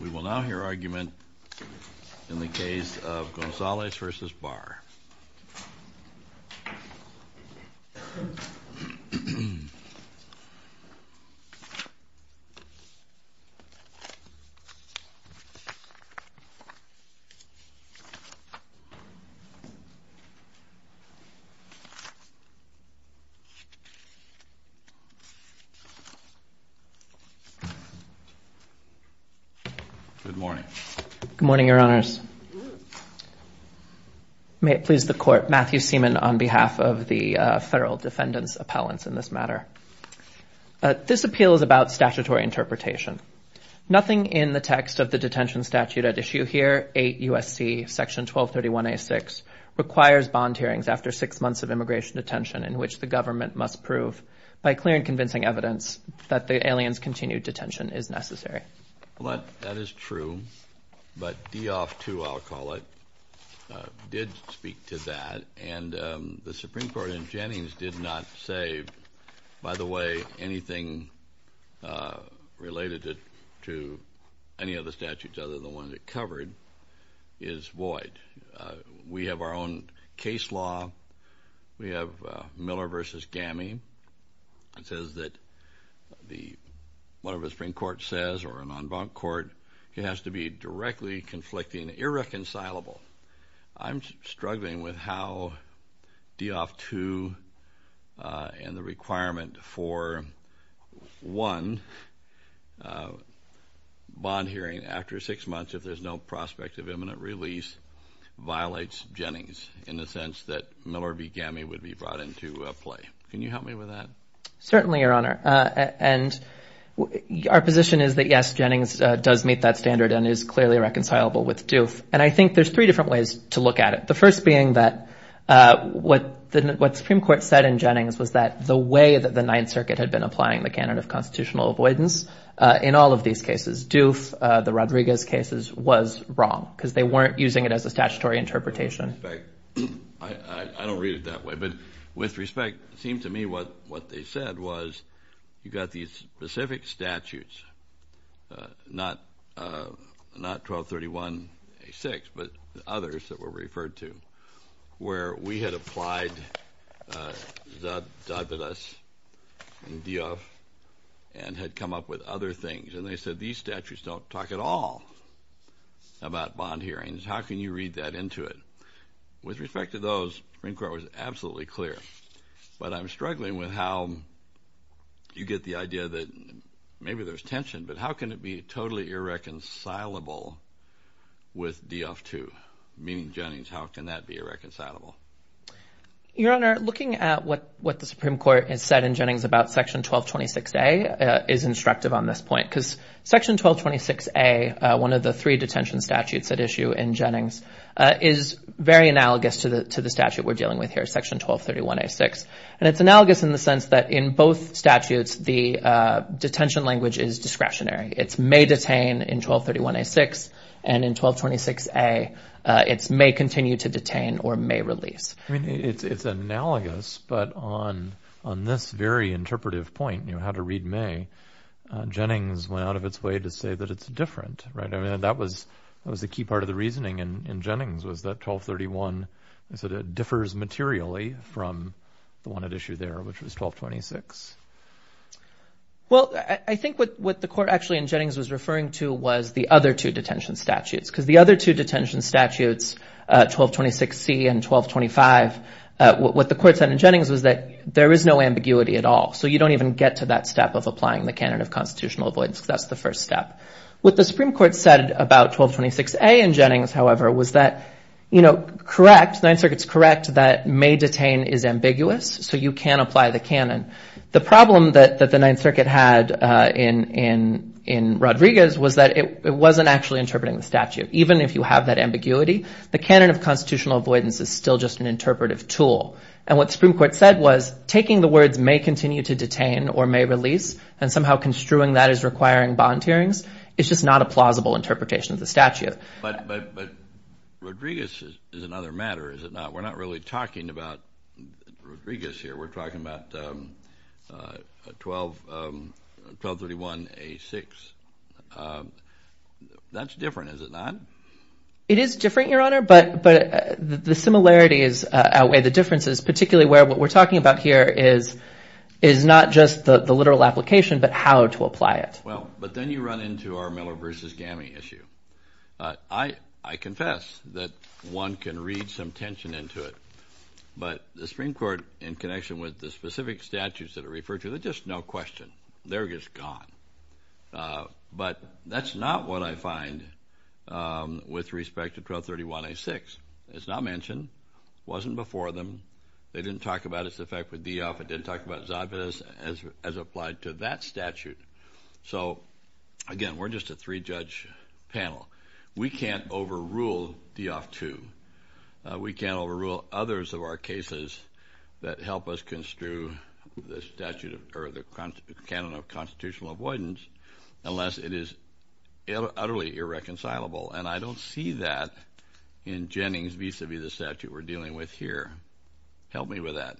We will now hear argument in the case of Gonzalez v. Barr. Good morning. Good morning, Your Honors. May it please the Court. Matthew Seaman on behalf of the Federal Defendant's Appellants in this matter. This appeal is about statutory interpretation. Nothing in the text of the detention statute at issue here, 8 U.S.C. section 1231A.6, requires bond hearings after six months of immigration detention in which the government must prove by clear and convincing evidence that the alien's continued detention is necessary. Well, that is true. But DOF II, I'll call it, did speak to that. And the Supreme Court in Jennings did not say, by the way, anything related to any of the statutes other than the ones it covered is void. We have our own case law. We have Miller v. Gammy. It says that whatever the Supreme Court says or an en banc court, it has to be directly conflicting, irreconcilable. I'm struggling with how DOF II and the requirement for one bond hearing after six months if there's no prospect of imminent release violates Jennings in the sense that Miller v. Gammy would be brought into play. Can you help me with that? Certainly, Your Honor. And our position is that, yes, Jennings does meet that standard and is clearly reconcilable with DOF. And I think there's three different ways to look at it, the first being that what the Supreme Court said in Jennings was that the way that the Ninth Circuit had been applying the canon of constitutional avoidance in all of these cases, DOF, the Rodriguez cases, was wrong because they weren't using it as a statutory interpretation. I don't read it that way, but with respect, it seemed to me what they said was you've got these specific statutes, not 1231A6, but others that were referred to, where we had applied Zadavidas and DOF and had come up with other things. And they said these statutes don't talk at all about bond hearings. How can you read that into it? With respect to those, the Supreme Court was absolutely clear. But I'm struggling with how you get the idea that maybe there's tension, but how can it be totally irreconcilable with DOF too? Meaning Jennings, how can that be irreconcilable? Your Honor, looking at what the Supreme Court has said in Jennings about Section 1226A is instructive on this point because Section 1226A, one of the three detention statutes at issue in Jennings, is very analogous to the statute we're dealing with here, Section 1231A6. And it's analogous in the sense that in both statutes, the detention language is discretionary. It's may detain in 1231A6, and in 1226A, it's may continue to detain or may release. It's analogous, but on this very interpretive point, how to read may, Jennings went out of its way to say that it's different, right? I mean, that was a key part of the reasoning in Jennings, was that 1231 differs materially from the one at issue there, which was 1226. Well, I think what the court actually in Jennings was referring to was the other two detention statutes because the other two detention statutes, 1226C and 1225, what the court said in Jennings was that there is no ambiguity at all, so you don't even get to that step of applying the canon of constitutional avoidance, because that's the first step. What the Supreme Court said about 1226A in Jennings, however, was that, you know, correct, Ninth Circuit's correct that may detain is ambiguous, so you can apply the canon. The problem that the Ninth Circuit had in Rodriguez was that it wasn't actually interpreting the statute. Even if you have that ambiguity, the canon of constitutional avoidance is still just an interpretive tool. And what the Supreme Court said was taking the words may continue to detain or may release and somehow construing that as requiring bond hearings is just not a plausible interpretation of the statute. But Rodriguez is another matter, is it not? We're not really talking about Rodriguez here. We're talking about 1231A6. That's different, is it not? This is particularly where what we're talking about here is not just the literal application, but how to apply it. Well, but then you run into our Miller v. Gammie issue. I confess that one can read some tension into it, but the Supreme Court, in connection with the specific statutes that are referred to, they're just no question. They're just gone. But that's not what I find with respect to 1231A6. It's not mentioned. It wasn't before them. They didn't talk about its effect with Dioff. It didn't talk about Zobvitz as applied to that statute. So, again, we're just a three-judge panel. We can't overrule Dioff II. We can't overrule others of our cases that help us construe the statute or the canon of constitutional avoidance unless it is utterly irreconcilable. And I don't see that in Jennings vis-a-vis the statute we're dealing with here. Help me with that.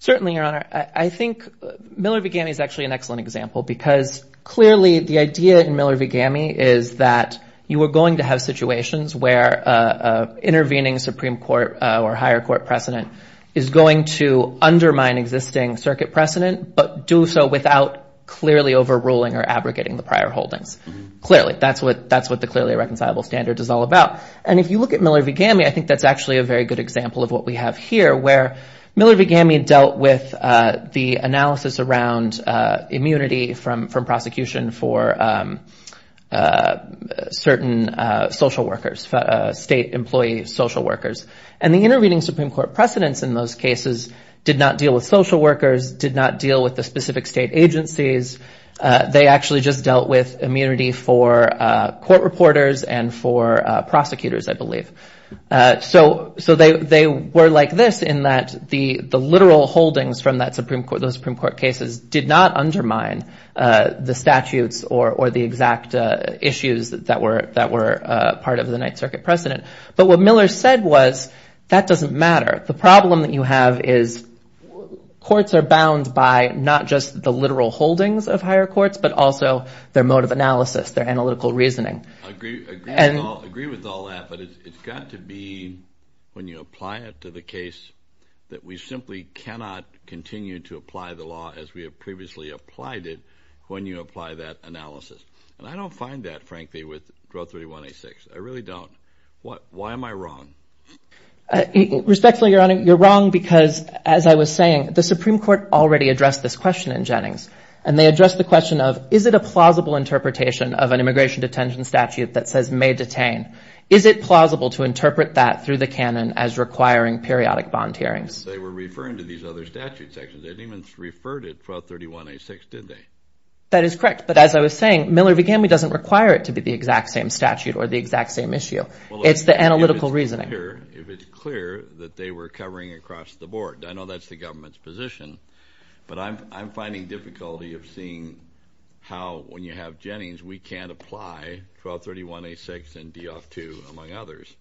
Certainly, Your Honor. I think Miller v. Gammie is actually an excellent example because clearly the idea in Miller v. Gammie is that you are going to have situations where intervening Supreme Court or higher court precedent is going to undermine existing circuit precedent, but do so without clearly overruling or abrogating the prior holdings. Clearly, that's what the clearly irreconcilable standard is all about. And if you look at Miller v. Gammie, I think that's actually a very good example of what we have here where Miller v. Gammie dealt with the analysis around immunity from prosecution for certain social workers, state employee social workers, and the intervening Supreme Court precedents in those cases did not deal with social workers, did not deal with the specific state agencies. They actually just dealt with immunity for court reporters and for prosecutors, I believe. So they were like this in that the literal holdings from those Supreme Court cases did not undermine the statutes or the exact issues that were part of the Ninth Circuit precedent. But what Miller said was that doesn't matter. The problem that you have is courts are bound by not just the literal holdings of higher courts, but also their mode of analysis, their analytical reasoning. I agree with all that, but it's got to be when you apply it to the case that we simply cannot continue to apply the law as we have previously applied it when you apply that analysis. And I don't find that, frankly, with Draw 3186. I really don't. Why am I wrong? Respectfully, Your Honor, you're wrong because, as I was saying, the Supreme Court already addressed this question in Jennings, and they addressed the question of is it a plausible interpretation of an immigration detention statute that says may detain? Is it plausible to interpret that through the canon as requiring periodic bond hearings? They were referring to these other statute sections. They didn't even refer to it for 3186, did they? That is correct. But as I was saying, Miller-Vigamy doesn't require it to be the exact same statute or the exact same issue. It's the analytical reasoning. If it's clear that they were covering across the board, I know that's the government's position, but I'm finding difficulty of seeing how, when you have Jennings, we can't apply 1231A6 and DOF II, among others.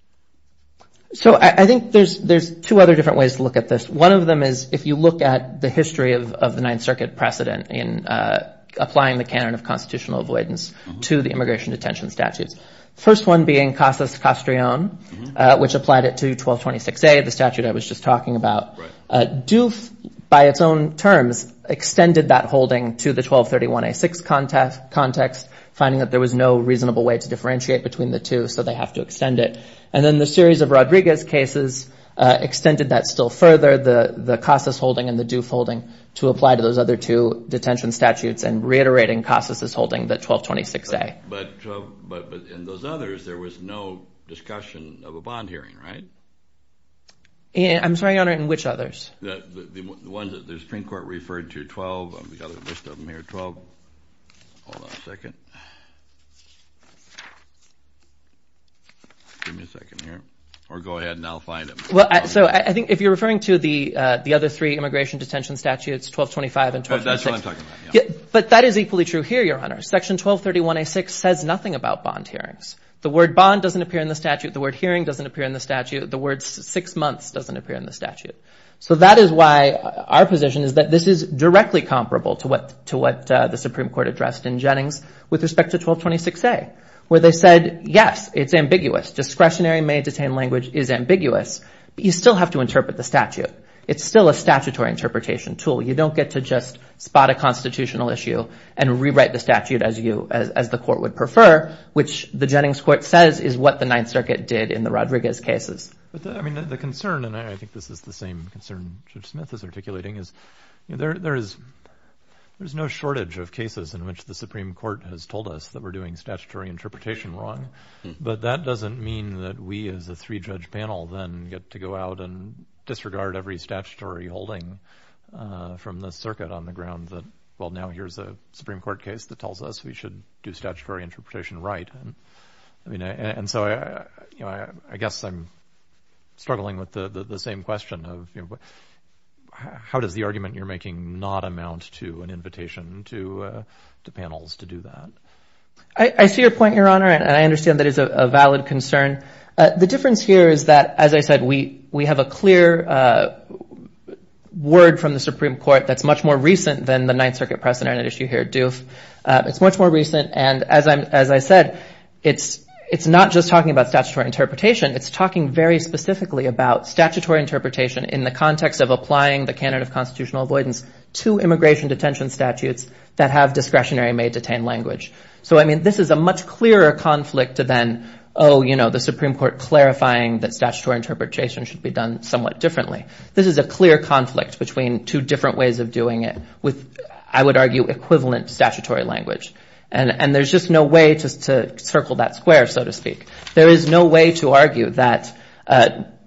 So I think there's two other different ways to look at this. One of them is if you look at the history of the Ninth Circuit precedent in applying the canon of constitutional avoidance to the immigration detention statutes. The first one being CASAS-Castrillon, which applied it to 1226A, the statute I was just talking about. DOF, by its own terms, extended that holding to the 1231A6 context, finding that there was no reasonable way to differentiate between the two, so they have to extend it. And then the series of Rodriguez cases extended that still further, the CASAS holding and the DOF holding, to apply to those other two detention statutes and reiterating CASAS' holding, the 1226A. But in those others, there was no discussion of a bond hearing, right? I'm sorry, Your Honor, in which others? The ones that the Supreme Court referred to, 12, we've got a list of them here, 12. Hold on a second. Give me a second here. Or go ahead and I'll find them. So I think if you're referring to the other three immigration detention statutes, 1225 and 1236. That's what I'm talking about, yeah. But that is equally true here, Your Honor. Section 1231A6 says nothing about bond hearings. The word bond doesn't appear in the statute. The word hearing doesn't appear in the statute. The word six months doesn't appear in the statute. So that is why our position is that this is directly comparable to what the Supreme Court addressed in Jennings with respect to 1226A, where they said, yes, it's ambiguous. Discretionary may-detain language is ambiguous, but you still have to interpret the statute. It's still a statutory interpretation tool. You don't get to just spot a constitutional issue and rewrite the statute as the court would prefer, which the Jennings court says is what the Ninth Circuit did in the Rodriguez cases. I mean, the concern, and I think this is the same concern Judge Smith is articulating, is there is no shortage of cases in which the Supreme Court has told us that we're doing statutory interpretation wrong. But that doesn't mean that we, as a three-judge panel, then get to go out and disregard every statutory holding from the circuit on the ground that, well, now here's a Supreme Court case that tells us we should do statutory interpretation right. And so I guess I'm struggling with the same question of how does the argument you're making not amount to an invitation to panels to do that? I see your point, Your Honor, and I understand that is a valid concern. The difference here is that, as I said, we have a clear word from the Supreme Court that's much more recent than the Ninth Circuit precedent issue here at Duke. It's much more recent. And as I said, it's not just talking about statutory interpretation. It's talking very specifically about statutory interpretation in the context of applying the candidate of constitutional avoidance to immigration detention statutes that have discretionary made detained language. So, I mean, this is a much clearer conflict than, oh, you know, the Supreme Court clarifying that statutory interpretation should be done somewhat differently. This is a clear conflict between two different ways of doing it with, I would argue, equivalent statutory language. And there's just no way to circle that square, so to speak. There is no way to argue that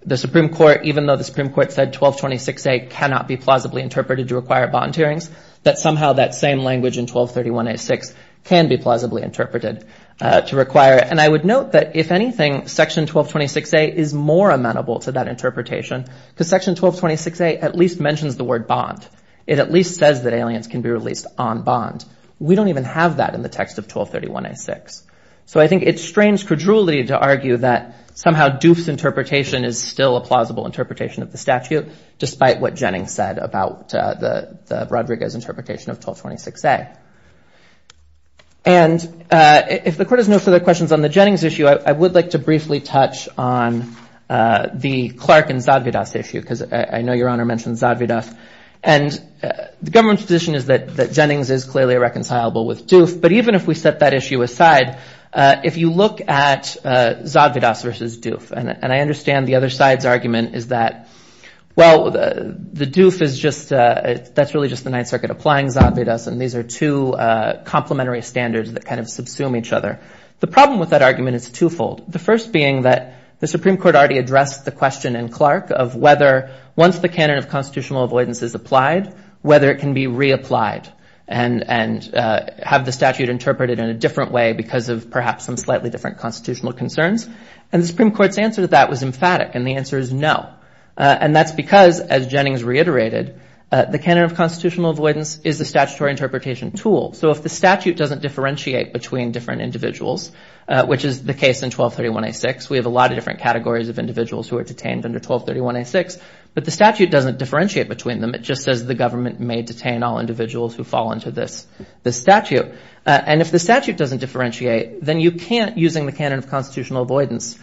the Supreme Court, even though the Supreme Court said 1226A cannot be plausibly interpreted to require bond hearings, that somehow that same language in 1231A6 can be plausibly interpreted to require it. And I would note that, if anything, Section 1226A is more amenable to that interpretation because Section 1226A at least mentions the word bond. It at least says that aliens can be released on bond. We don't even have that in the text of 1231A6. So I think it's strange credulity to argue that somehow Doof's interpretation is still a plausible interpretation of the statute, despite what Jennings said about the Rodriguez interpretation of 1226A. And if the Court has no further questions on the Jennings issue, I would like to briefly touch on the Clark and Zadvydas issue, because I know Your Honor mentioned Zadvydas. And the government's position is that Jennings is clearly irreconcilable with Doof. But even if we set that issue aside, if you look at Zadvydas versus Doof, and I understand the other side's argument is that, well, the Doof is just, that's really just the Ninth Circuit applying Zadvydas, and these are two complementary standards that kind of subsume each other. The problem with that argument is twofold. The first being that the Supreme Court already addressed the question in Clark of whether, once the canon of constitutional avoidance is applied, whether it can be reapplied and have the statute interpreted in a different way because of perhaps some slightly different constitutional concerns. And the Supreme Court's answer to that was emphatic, and the answer is no. And that's because, as Jennings reiterated, the canon of constitutional avoidance is a statutory interpretation tool. So if the statute doesn't differentiate between different individuals, which is the case in 1231A6, we have a lot of different categories of individuals who are detained under 1231A6, but the statute doesn't differentiate between them. It just says the government may detain all individuals who fall under this statute. And if the statute doesn't differentiate, then you can't, using the canon of constitutional avoidance,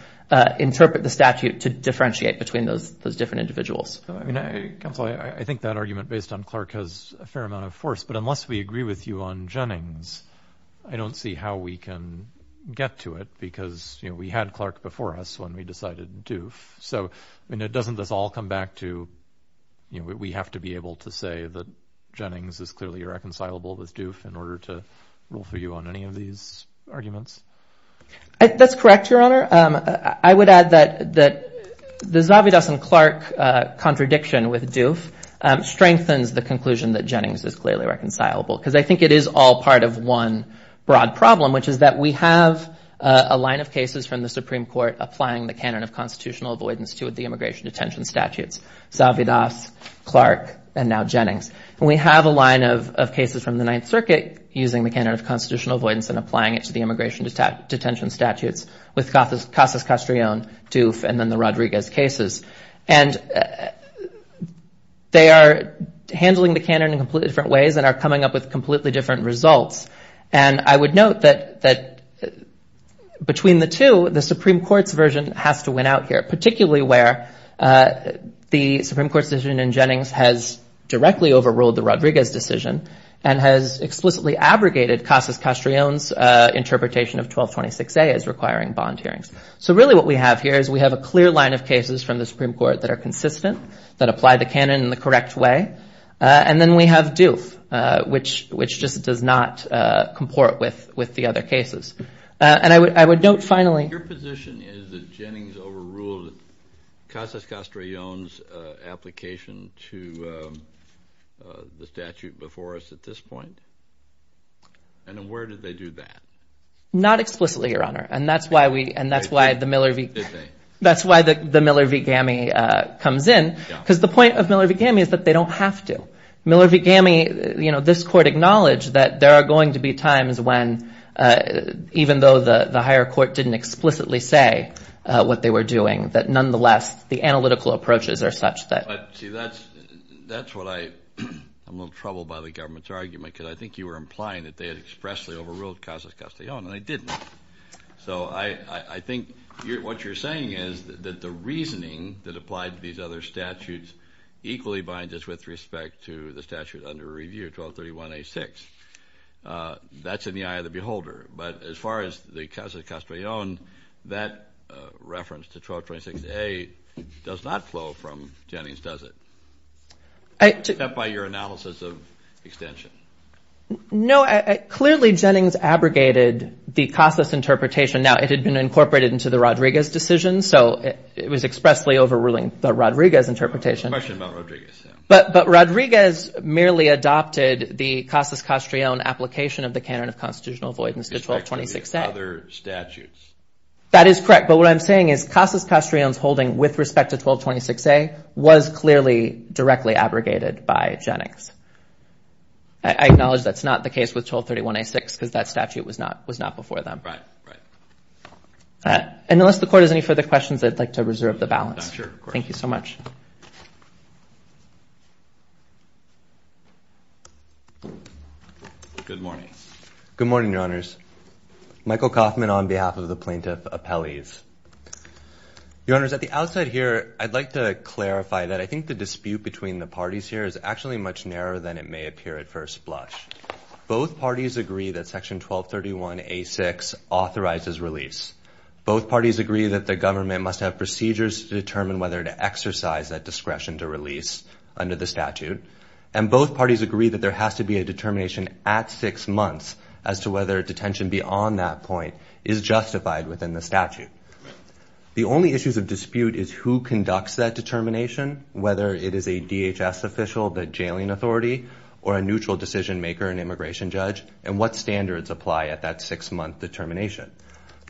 interpret the statute to differentiate between those different individuals. I mean, Counselor, I think that argument based on Clark has a fair amount of force, but unless we agree with you on Jennings, I don't see how we can get to it because, you know, we had Clark before us when we decided Doof. So, I mean, doesn't this all come back to, you know, we have to be able to say that Jennings is clearly reconcilable with Doof in order to rule for you on any of these arguments? That's correct, Your Honor. I would add that the Zavidas and Clark contradiction with Doof strengthens the conclusion that Jennings is clearly reconcilable because I think it is all part of one broad problem, which is that we have a line of cases from the Supreme Court applying the canon of constitutional avoidance to the immigration detention statutes, Zavidas, Clark, and now Jennings. And we have a line of cases from the Ninth Circuit using the canon of constitutional avoidance and applying it to the immigration detention statutes with Casas-Castrillon, Doof, and then the Rodriguez cases. And they are handling the canon in completely different ways and are coming up with completely different results. And I would note that between the two, the Supreme Court's version has to win out here, particularly where the Supreme Court's decision in Jennings has directly overruled the Rodriguez decision and has explicitly abrogated Casas-Castrillon's interpretation of 1226A as requiring bond hearings. So really what we have here is we have a clear line of cases from the Supreme Court that are consistent, that apply the canon in the correct way, and then we have Doof, which just does not comport with the other cases. And I would note finally — —Casas-Castrillon's application to the statute before us at this point? And then where did they do that? Not explicitly, Your Honor, and that's why the Miller v. Gammey comes in, because the point of Miller v. Gammey is that they don't have to. Miller v. Gammey, you know, this Court acknowledged that there are going to be times when, even though the higher court didn't explicitly say what they were doing, that nonetheless the analytical approaches are such that — See, that's what I'm a little troubled by the government's argument, because I think you were implying that they had expressly overruled Casas-Castrillon, and they didn't. So I think what you're saying is that the reasoning that applied to these other statutes equally binds us with respect to the statute under review, 1231A-6. That's in the eye of the beholder. But as far as the Casas-Castrillon, that reference to 1236A does not flow from Jennings, does it? Except by your analysis of extension. No, clearly Jennings abrogated the Casas interpretation. Now, it had been incorporated into the Rodriguez decision, so it was expressly overruling the Rodriguez interpretation. The question about Rodriguez, yeah. But Rodriguez merely adopted the Casas-Castrillon application of the canon of constitutional avoidance to 1226A. That is correct, but what I'm saying is Casas-Castrillon's holding with respect to 1226A was clearly directly abrogated by Jennings. I acknowledge that's not the case with 1231A-6, because that statute was not before them. Right, right. And unless the Court has any further questions, I'd like to reserve the balance. Thank you so much. Good morning. Good morning, Your Honors. Michael Kaufman on behalf of the Plaintiff Appellees. Your Honors, at the outset here, I'd like to clarify that I think the dispute between the parties here is actually much narrower than it may appear at first blush. Both parties agree that Section 1231A-6 authorizes release. Both parties agree that the government must have procedures to determine whether to exercise that discretion to release under the statute. And both parties agree that there has to be a determination at six months as to whether detention beyond that point is justified within the statute. The only issues of dispute is who conducts that determination, whether it is a DHS official, the jailing authority, or a neutral decision-maker, an immigration judge, and what standards apply at that six-month determination.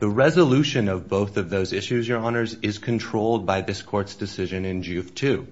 The resolution of both of those issues, Your Honors, is controlled by this Court's decision in Juve 2.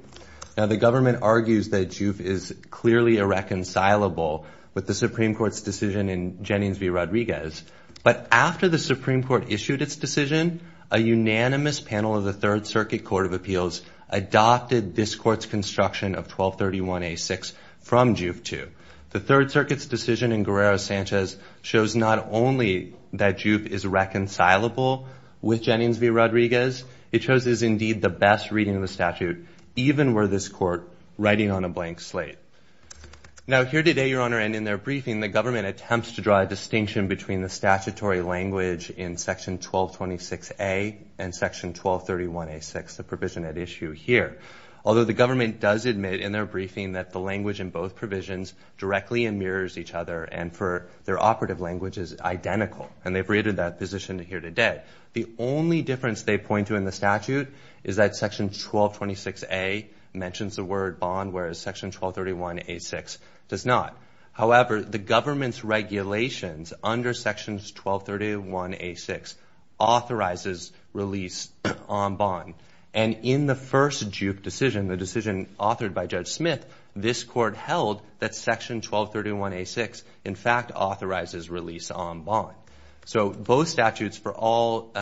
Now, the government argues that Juve is clearly irreconcilable with the Supreme Court's decision in Jennings v. Rodriguez. But after the Supreme Court issued its decision, a unanimous panel of the Third Circuit Court of Appeals adopted this Court's construction of 1231A-6 from Juve 2. The Third Circuit's decision in Guerrero-Sanchez shows not only that Juve is reconcilable with Jennings v. Rodriguez, it shows it is indeed the best reading of the statute, even were this Court writing on a blank slate. Now, here today, Your Honor, and in their briefing, the government attempts to draw a distinction between the statutory language in Section 1226A and Section 1231A-6, the provision at issue here. Although the government does admit in their briefing that the language in both provisions directly mirrors each other and for their operative language is identical, and they've created that position here today. The only difference they point to in the statute is that Section 1226A mentions the word bond, whereas Section 1231A-6 does not. However, the government's regulations under Section 1231A-6 authorizes release on bond. And in the first Juve decision, the decision authored by Judge Smith, this Court held that Section 1231A-6, in fact, authorizes release on bond. So both statutes, for all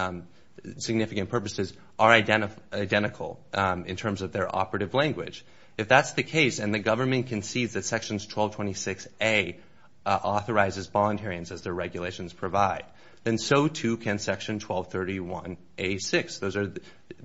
significant purposes, are identical in terms of their operative language. If that's the case and the government concedes that Sections 1226A authorizes bond hearings as their regulations provide, then so too can Section 1231A-6. Those are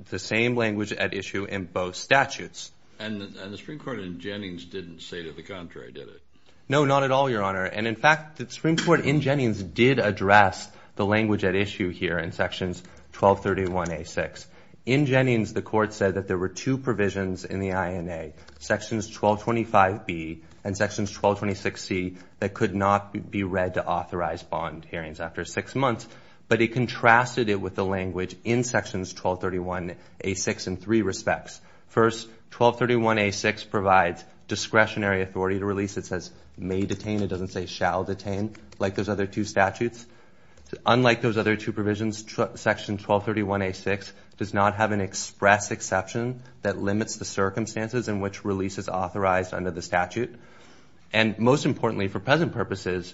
the same language at issue in both statutes. And the Supreme Court in Jennings didn't say to the contrary, did it? No, not at all, Your Honor. And, in fact, the Supreme Court in Jennings did address the language at issue here in Sections 1231A-6. In Jennings, the Court said that there were two provisions in the INA, Sections 1225B and Sections 1226C, that could not be read to authorize bond hearings after six months, but it contrasted it with the language in Sections 1231A-6 in three respects. First, 1231A-6 provides discretionary authority to release. It says, may detain. It doesn't say, shall detain, like those other two statutes. Unlike those other two provisions, Section 1231A-6 does not have an express exception that limits the circumstances in which release is authorized under the statute. And, most importantly, for present purposes,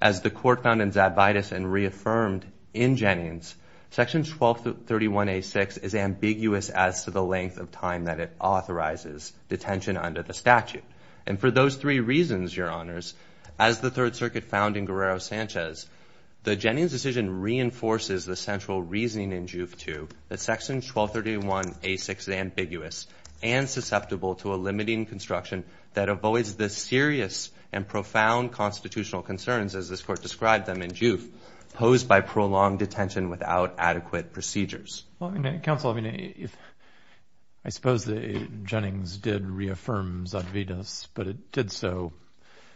as the Court found in Zadvydas and reaffirmed in Jennings, Section 1231A-6 is ambiguous as to the length of time that it authorizes detention under the statute. And for those three reasons, Your Honors, as the Third Circuit found in Guerrero-Sanchez, the Jennings decision reinforces the central reasoning in Juve 2 that Section 1231A-6 is ambiguous and susceptible to a limiting construction that avoids the serious and profound constitutional concerns, as this Court described them in Juve, posed by prolonged detention without adequate procedures. Well, Counsel, I mean, I suppose that Jennings did reaffirm Zadvydas, but it did so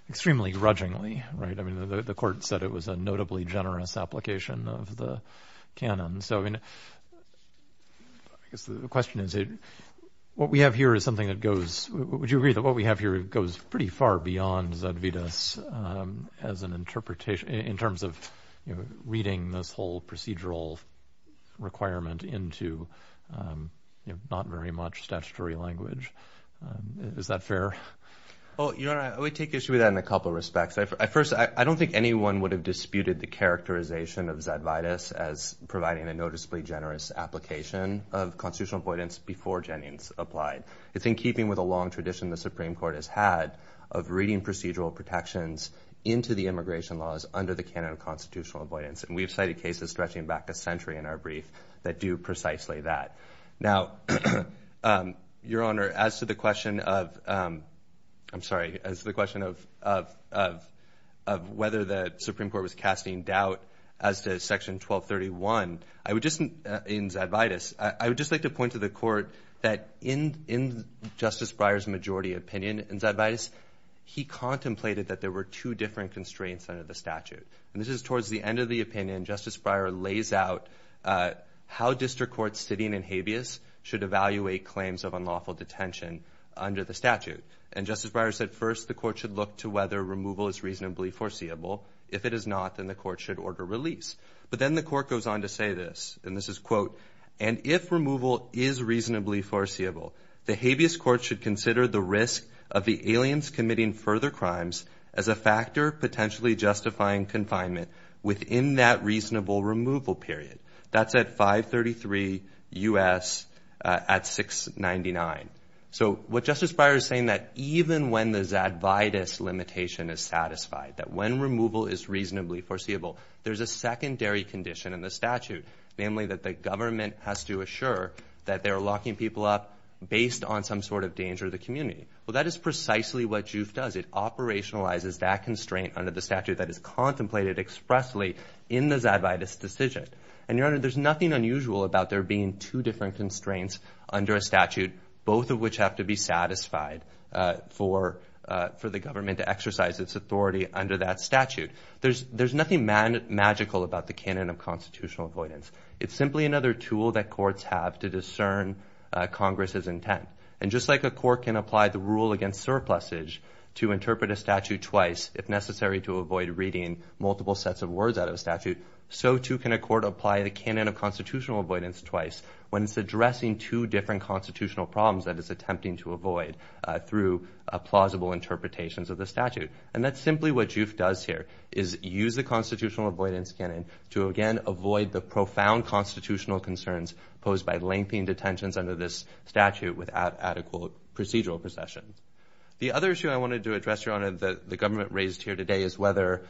extremely grudgingly, right? I mean, the Court said it was a notably generous application of the canon. So, I mean, I guess the question is, what we have here is something that goes, would you agree that what we have here goes pretty far beyond Zadvydas as an interpretation in terms of reading this whole procedural requirement into not very much statutory language? Is that fair? Well, Your Honor, I would take issue with that in a couple of respects. First, I don't think anyone would have disputed the characterization of Zadvydas as providing a noticeably generous application of constitutional avoidance before Jennings applied. It's in keeping with a long tradition the Supreme Court has had of reading procedural protections into the immigration laws under the canon of constitutional avoidance, and we have cited cases stretching back a century in our brief that do precisely that. Now, Your Honor, as to the question of whether the Supreme Court was casting doubt as to Section 1231 in Zadvydas, I would just like to point to the Court that in Justice Breyer's majority opinion in Zadvydas, he contemplated that there were two different constraints under the statute. And this is towards the end of the opinion. Justice Breyer lays out how district courts sitting in habeas should evaluate claims of unlawful detention under the statute. And Justice Breyer said, first, the Court should look to whether removal is reasonably foreseeable. If it is not, then the Court should order release. But then the Court goes on to say this, and this is, quote, and if removal is reasonably foreseeable, the habeas court should consider the risk of the aliens committing further crimes as a factor potentially justifying confinement within that reasonable removal period. That's at 533 U.S. at 699. So what Justice Breyer is saying is that even when the Zadvydas limitation is satisfied, that when removal is reasonably foreseeable, there's a secondary condition in the statute, namely that the government has to assure that they're locking people up based on some sort of danger to the community. Well, that is precisely what JUIF does. It operationalizes that constraint under the statute that is contemplated expressly in the Zadvydas decision. And, Your Honor, there's nothing unusual about there being two different constraints under a statute, both of which have to be satisfied for the government to exercise its authority under that statute. There's nothing magical about the canon of constitutional avoidance. It's simply another tool that courts have to discern Congress's intent. And just like a court can apply the rule against surplusage to interpret a statute twice, if necessary to avoid reading multiple sets of words out of a statute, so too can a court apply the canon of constitutional avoidance twice when it's addressing two different constitutional problems that it's attempting to avoid through plausible interpretations of the statute. And that's simply what JUIF does here, is use the constitutional avoidance canon to, again, avoid the profound constitutional concerns posed by lengthening detentions under this statute without adequate procedural procession. The other issue I wanted to address, Your Honor, that the government raised here today is whether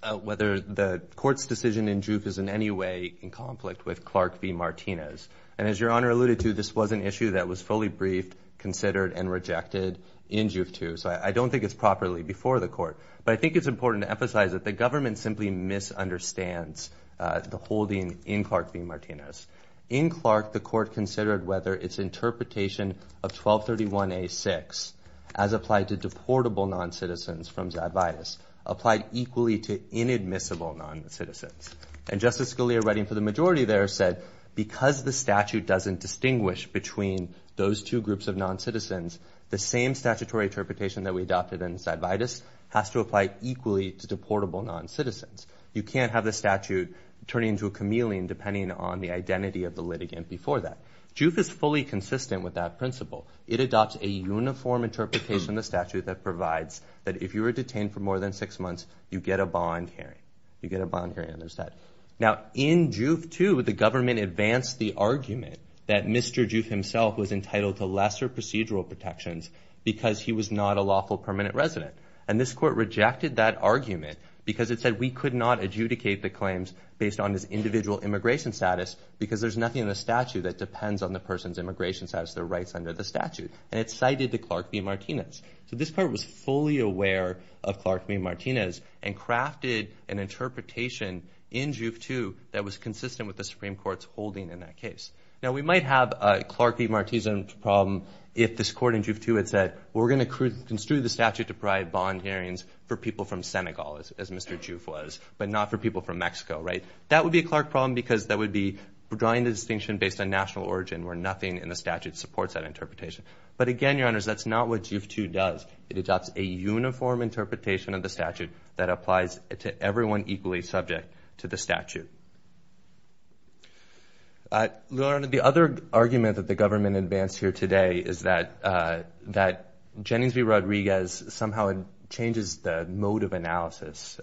the court's decision in JUIF is in any way in conflict with Clark v. Martinez. And as Your Honor alluded to, this was an issue that was fully briefed, considered, and rejected in JUIF II. So I don't think it's properly before the court. But I think it's important to emphasize that the government simply misunderstands the holding in Clark v. Martinez. In Clark, the court considered whether its interpretation of 1231a-6 as applied to deportable noncitizens from Zadvias applied equally to inadmissible noncitizens. And Justice Scalia, writing for the majority there, said, because the statute doesn't distinguish between those two groups of noncitizens, the same statutory interpretation that we adopted in Zadvias has to apply equally to deportable noncitizens. You can't have the statute turn into a chameleon depending on the identity of the litigant before that. JUIF is fully consistent with that principle. It adopts a uniform interpretation of the statute that provides that if you are detained for more than six months, you get a bond hearing. You get a bond hearing under Zadvias. Now, in JUIF II, the government advanced the argument that Mr. JUIF himself was entitled to lesser procedural protections because he was not a lawful permanent resident. And this court rejected that argument because it said we could not adjudicate the claims based on his individual immigration status because there's nothing in the statute that depends on the person's immigration status, their rights under the statute. And it cited the Clark v. Martinez. So this court was fully aware of Clark v. Martinez and crafted an interpretation in JUIF II that was consistent with the Supreme Court's holding in that case. Now, we might have a Clark v. Martinez problem if this court in JUIF II had said, we're going to construe the statute to provide bond hearings for people from Senegal, as Mr. JUIF was, but not for people from Mexico, right? That would be a Clark problem because that would be drawing the distinction based on national origin where nothing in the statute supports that interpretation. But again, Your Honors, that's not what JUIF II does. It adopts a uniform interpretation of the statute that applies to everyone equally subject to the statute. Your Honor, the other argument that the government advanced here today is that Jennings v. Rodriguez somehow changes the mode of analysis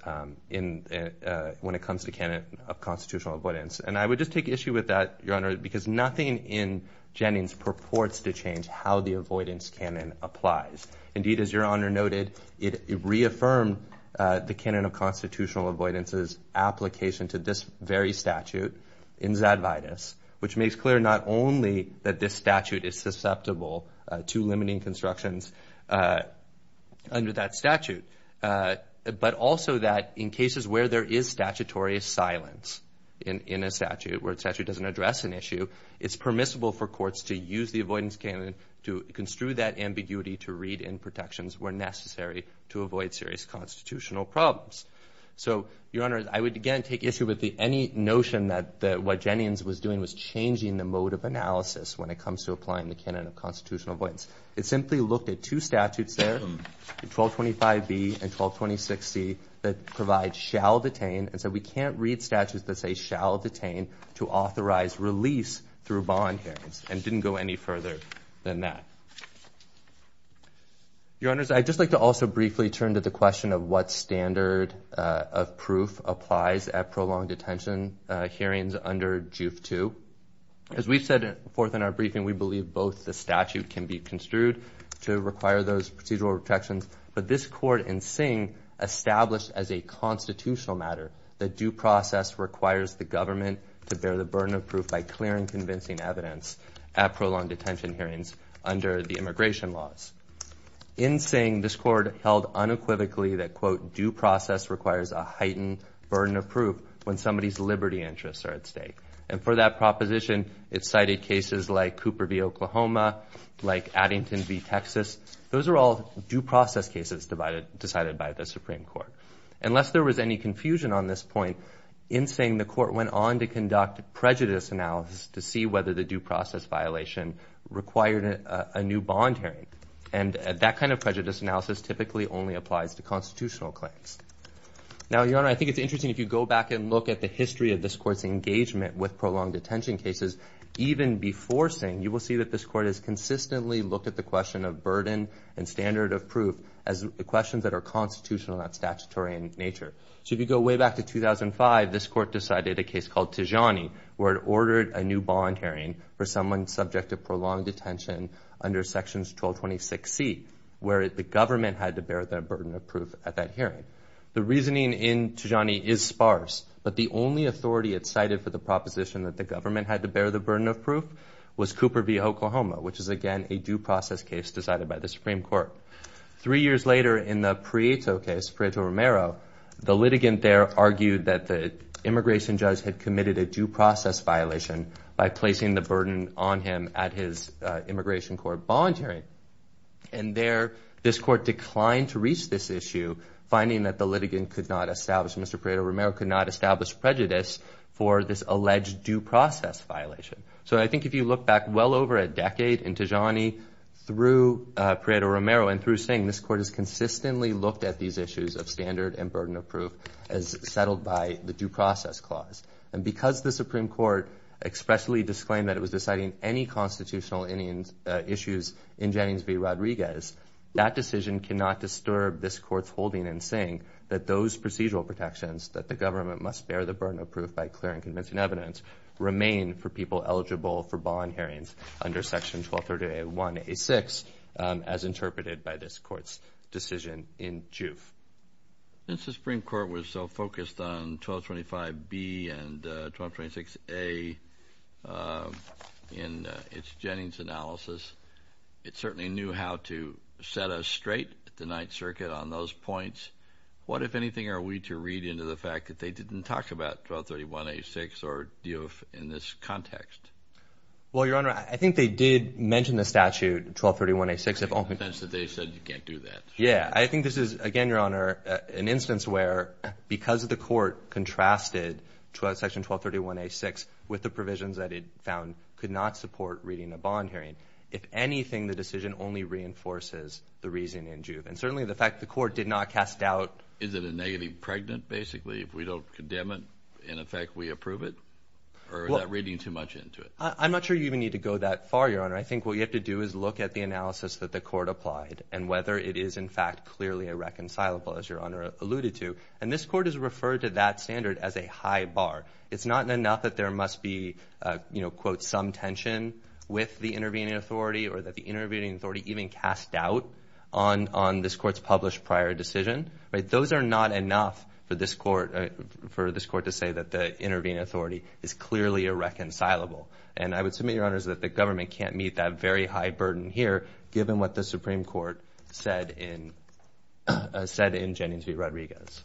when it comes to canon of constitutional avoidance. And I would just take issue with that, Your Honor, because nothing in Jennings purports to change how the avoidance canon applies. Indeed, as Your Honor noted, it reaffirmed the canon of constitutional avoidance's application to this very statute in Zadvitas, which makes clear not only that this statute is susceptible to limiting constructions under that statute, but also that in cases where there is statutory silence in a statute where a statute doesn't address an issue, it's permissible for courts to use the avoidance canon to construe that ambiguity to read in protections where necessary to avoid serious constitutional problems. So Your Honor, I would again take issue with any notion that what Jennings was doing was changing the mode of analysis when it comes to applying the canon of constitutional avoidance. It simply looked at two statutes there, 1225B and 1226C, that provide shall detain, and said we can't read statutes that say shall detain to authorize release through bond hearings, and didn't go any further than that. Your Honors, I'd just like to also briefly turn to the question of what standard of proof applies at prolonged detention hearings under JUIF 2. As we've said before in our briefing, we believe both the statute can be construed to require those procedural protections, but this court in Singh established as a constitutional matter that due process requires the government to bear the burden of proof by clearing convincing evidence at prolonged detention hearings under the immigration laws. In Singh, this court held unequivocally that, quote, due process requires a heightened burden of proof when somebody's liberty interests are at stake. And for that proposition, it cited cases like Cooper v. Oklahoma, like Addington v. Texas. Those are all due process cases decided by the Supreme Court. Unless there was any confusion on this point, in Singh, the court went on to conduct prejudice analysis to see whether the due process violation required a new bond hearing. And that kind of prejudice analysis typically only applies to constitutional claims. Now, Your Honor, I think it's interesting if you go back and look at the history of this court's engagement with prolonged detention cases, even before Singh, you will see that this court has consistently looked at the question of burden and standard of proof as questions that are constitutional, not statutory in nature. So if you go way back to 2005, this court decided a case called Tijani, where it ordered a new bond hearing for someone subject to prolonged detention under sections 1226C, where the government had to bear the burden of proof at that hearing. The reasoning in Tijani is sparse, but the only authority it cited for the proposition that the government had to bear the burden of proof was Cooper v. Oklahoma, which is, again, a due process case decided by the Supreme Court. Three years later, in the Prieto case, Prieto-Romero, the litigant there argued that the immigration judge had committed a due process violation by placing the burden on him at his immigration court bond hearing. And there, this court declined to reach this issue, finding that the litigant could not establish, Mr. Prieto-Romero could not establish prejudice for this alleged due process violation. So I think if you look back well over a decade in Tijani through Prieto-Romero and through Singh, this court has consistently looked at these issues of standard and burden of proof as settled by the due process clause. And because the Supreme Court expressly disclaimed that it was deciding any constitutional issues in Jennings v. Rodriguez, that decision cannot disturb this court's holding in Singh that those procedural protections that the government must bear the burden of proof by clear and convincing evidence remain for people eligible for bond hearings under Section 1230A1-A6 as interpreted by this court's decision in Juve. Since the Supreme Court was so focused on 1225B and 1226A in its Jennings analysis, it certainly knew how to set us straight at the Ninth Circuit on those points. What, if anything, are we to read into the fact that they didn't talk about 1230A1-A6 or Juve in this context? Well, Your Honor, I think they did mention the statute, 1230A1-A6. In the sense that they said you can't do that. Yeah. I think this is, again, Your Honor, an instance where because the court contrasted Section 1230A1-A6 with the provisions that it found could not support reading a bond hearing, if anything, the decision only reinforces the reason in Juve. And certainly the fact the court did not cast doubt. Is it a negative pregnant, basically, if we don't condemn it and, in effect, we approve it? Or is that reading too much into it? I'm not sure you even need to go that far, Your Honor. I think what you have to do is look at the analysis that the court applied and whether it is, in fact, clearly irreconcilable, as Your Honor alluded to. And this court has referred to that standard as a high bar. It's not enough that there must be, you know, quote, some tension with the intervening authority or that the intervening authority even cast doubt on this court's published prior decision. Those are not enough for this court to say that the intervening authority is clearly irreconcilable. And I would submit, Your Honors, that the government can't meet that very high burden here given what the Supreme Court said in Jennings v. Rodriguez.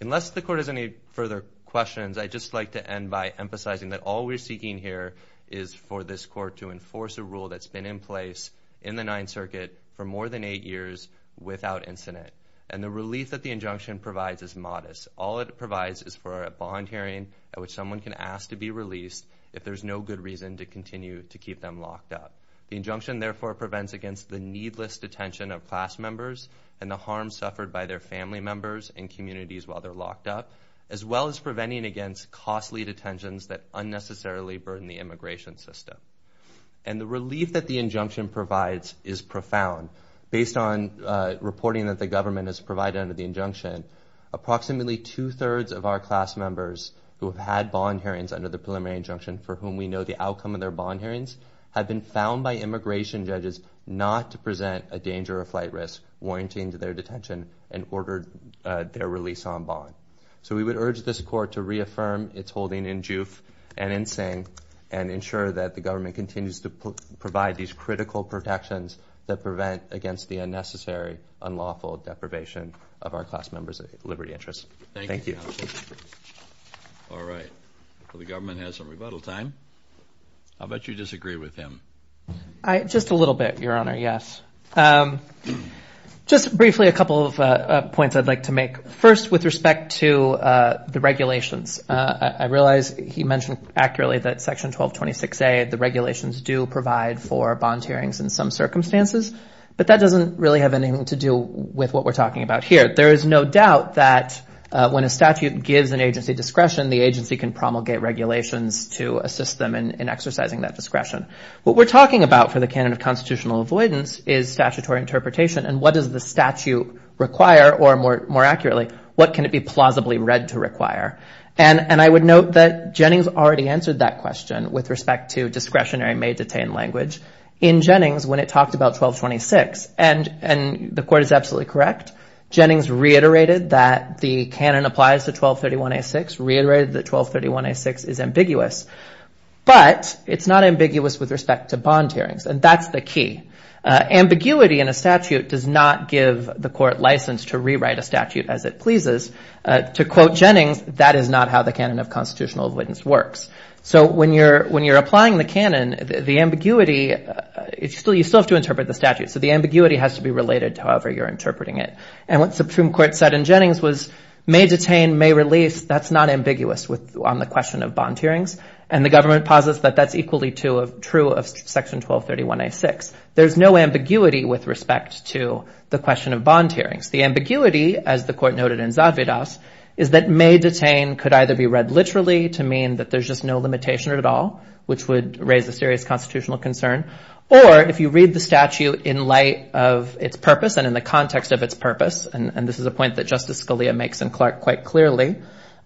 Unless the court has any further questions, I'd just like to end by emphasizing that all we're seeking here is for this court to enforce a rule that's been in place in the Ninth Circuit for more than eight years without incident. And the relief that the injunction provides is modest. All it provides is for a bond hearing at which someone can ask to be released if there's no good reason to continue to keep them locked up. The injunction, therefore, prevents against the needless detention of class members and the harm suffered by their family members and communities while they're locked up, as well as preventing against costly detentions that unnecessarily burden the immigration system. And the relief that the injunction provides is profound. Based on reporting that the government has provided under the injunction, approximately two-thirds of our class members who have had bond hearings under the preliminary injunction for whom we know the outcome of their bond hearings have been found by immigration judges not to present a danger of flight risk warranting to their detention and ordered their release on bond. So we would urge this court to reaffirm its holding in Juif and in Sing and ensure that the government continues to provide these critical protections that prevent against the unnecessary, unlawful deprivation of our class members' liberty interests. Thank you. All right. Well, the government has some rebuttal time. I'll bet you disagree with him. Just a little bit, Your Honor, yes. Just briefly a couple of points I'd like to make. First, with respect to the regulations, I realize he mentioned accurately that Section 1226A, the regulations do provide for bond hearings in some circumstances, but that doesn't really have anything to do with what we're talking about here. There is no doubt that when a statute gives an agency discretion, the agency can promulgate regulations to assist them in exercising that discretion. What we're talking about for the canon of constitutional avoidance is statutory interpretation, and what does the statute require, or more accurately, what can it be plausibly read to require? And I would note that Jennings already answered that question with respect to discretionary may-detain language in Jennings when it talked about 1226. And the court is absolutely correct. Jennings reiterated that the canon applies to 1231A6, reiterated that 1231A6 is ambiguous. But it's not ambiguous with respect to bond hearings, and that's the key. Ambiguity in a statute does not give the court license to rewrite a statute as it pleases. To quote Jennings, that is not how the canon of constitutional avoidance works. So when you're applying the canon, the ambiguity, you still have to interpret the statute, so the ambiguity has to be related to however you're interpreting it. And what the Supreme Court said in Jennings was may-detain, may-release, that's not ambiguous on the question of bond hearings, and the government posits that that's equally true of Section 1231A6. There's no ambiguity with respect to the question of bond hearings. The ambiguity, as the court noted in Zadvydas, is that may-detain could either be read literally to mean that there's just no limitation at all, which would raise a serious constitutional concern, or if you read the statute in light of its purpose and in the context of its purpose, and this is a point that Justice Scalia makes in Clark quite clearly,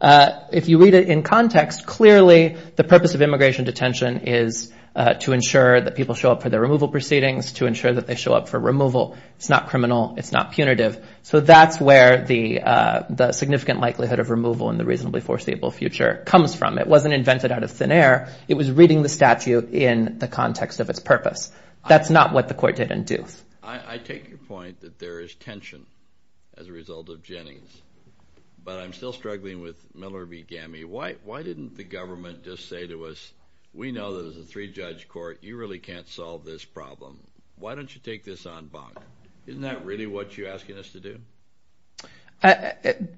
if you read it in context, clearly the purpose of immigration detention is to ensure that people show up for their removal proceedings, to ensure that they show up for removal. It's not criminal. It's not punitive. So that's where the significant likelihood of removal in the reasonably foreseeable future comes from. It wasn't invented out of thin air. It was reading the statute in the context of its purpose. That's not what the court didn't do. I take your point that there is tension as a result of Jennings, but I'm still struggling with Miller v. Gammey. Why didn't the government just say to us, we know that as a three-judge court you really can't solve this problem. Why don't you take this on bond? Isn't that really what you're asking us to do?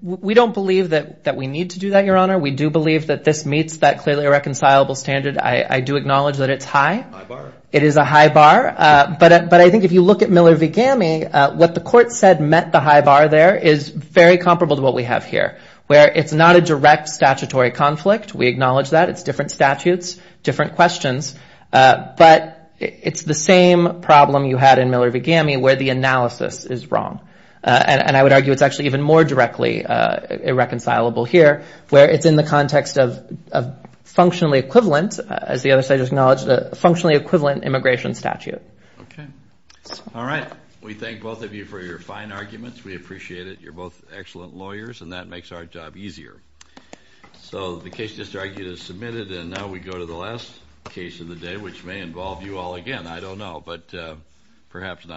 We don't believe that we need to do that, Your Honor. We do believe that this meets that clearly reconcilable standard. I do acknowledge that it's high. High bar. It is a high bar. But I think if you look at Miller v. Gammey, what the court said met the high bar there is very comparable to what we have here, where it's not a direct statutory conflict. We acknowledge that. It's different statutes, different questions. But it's the same problem you had in Miller v. Gammey where the analysis is wrong. And I would argue it's actually even more directly irreconcilable here where it's in the context of functionally equivalent, as the other side has acknowledged, a functionally equivalent immigration statute. Okay. All right. We thank both of you for your fine arguments. We appreciate it. You're both excellent lawyers, and that makes our job easier. So the case just argued is submitted, and now we go to the last case of the day, which may involve you all again. I don't know, but perhaps not.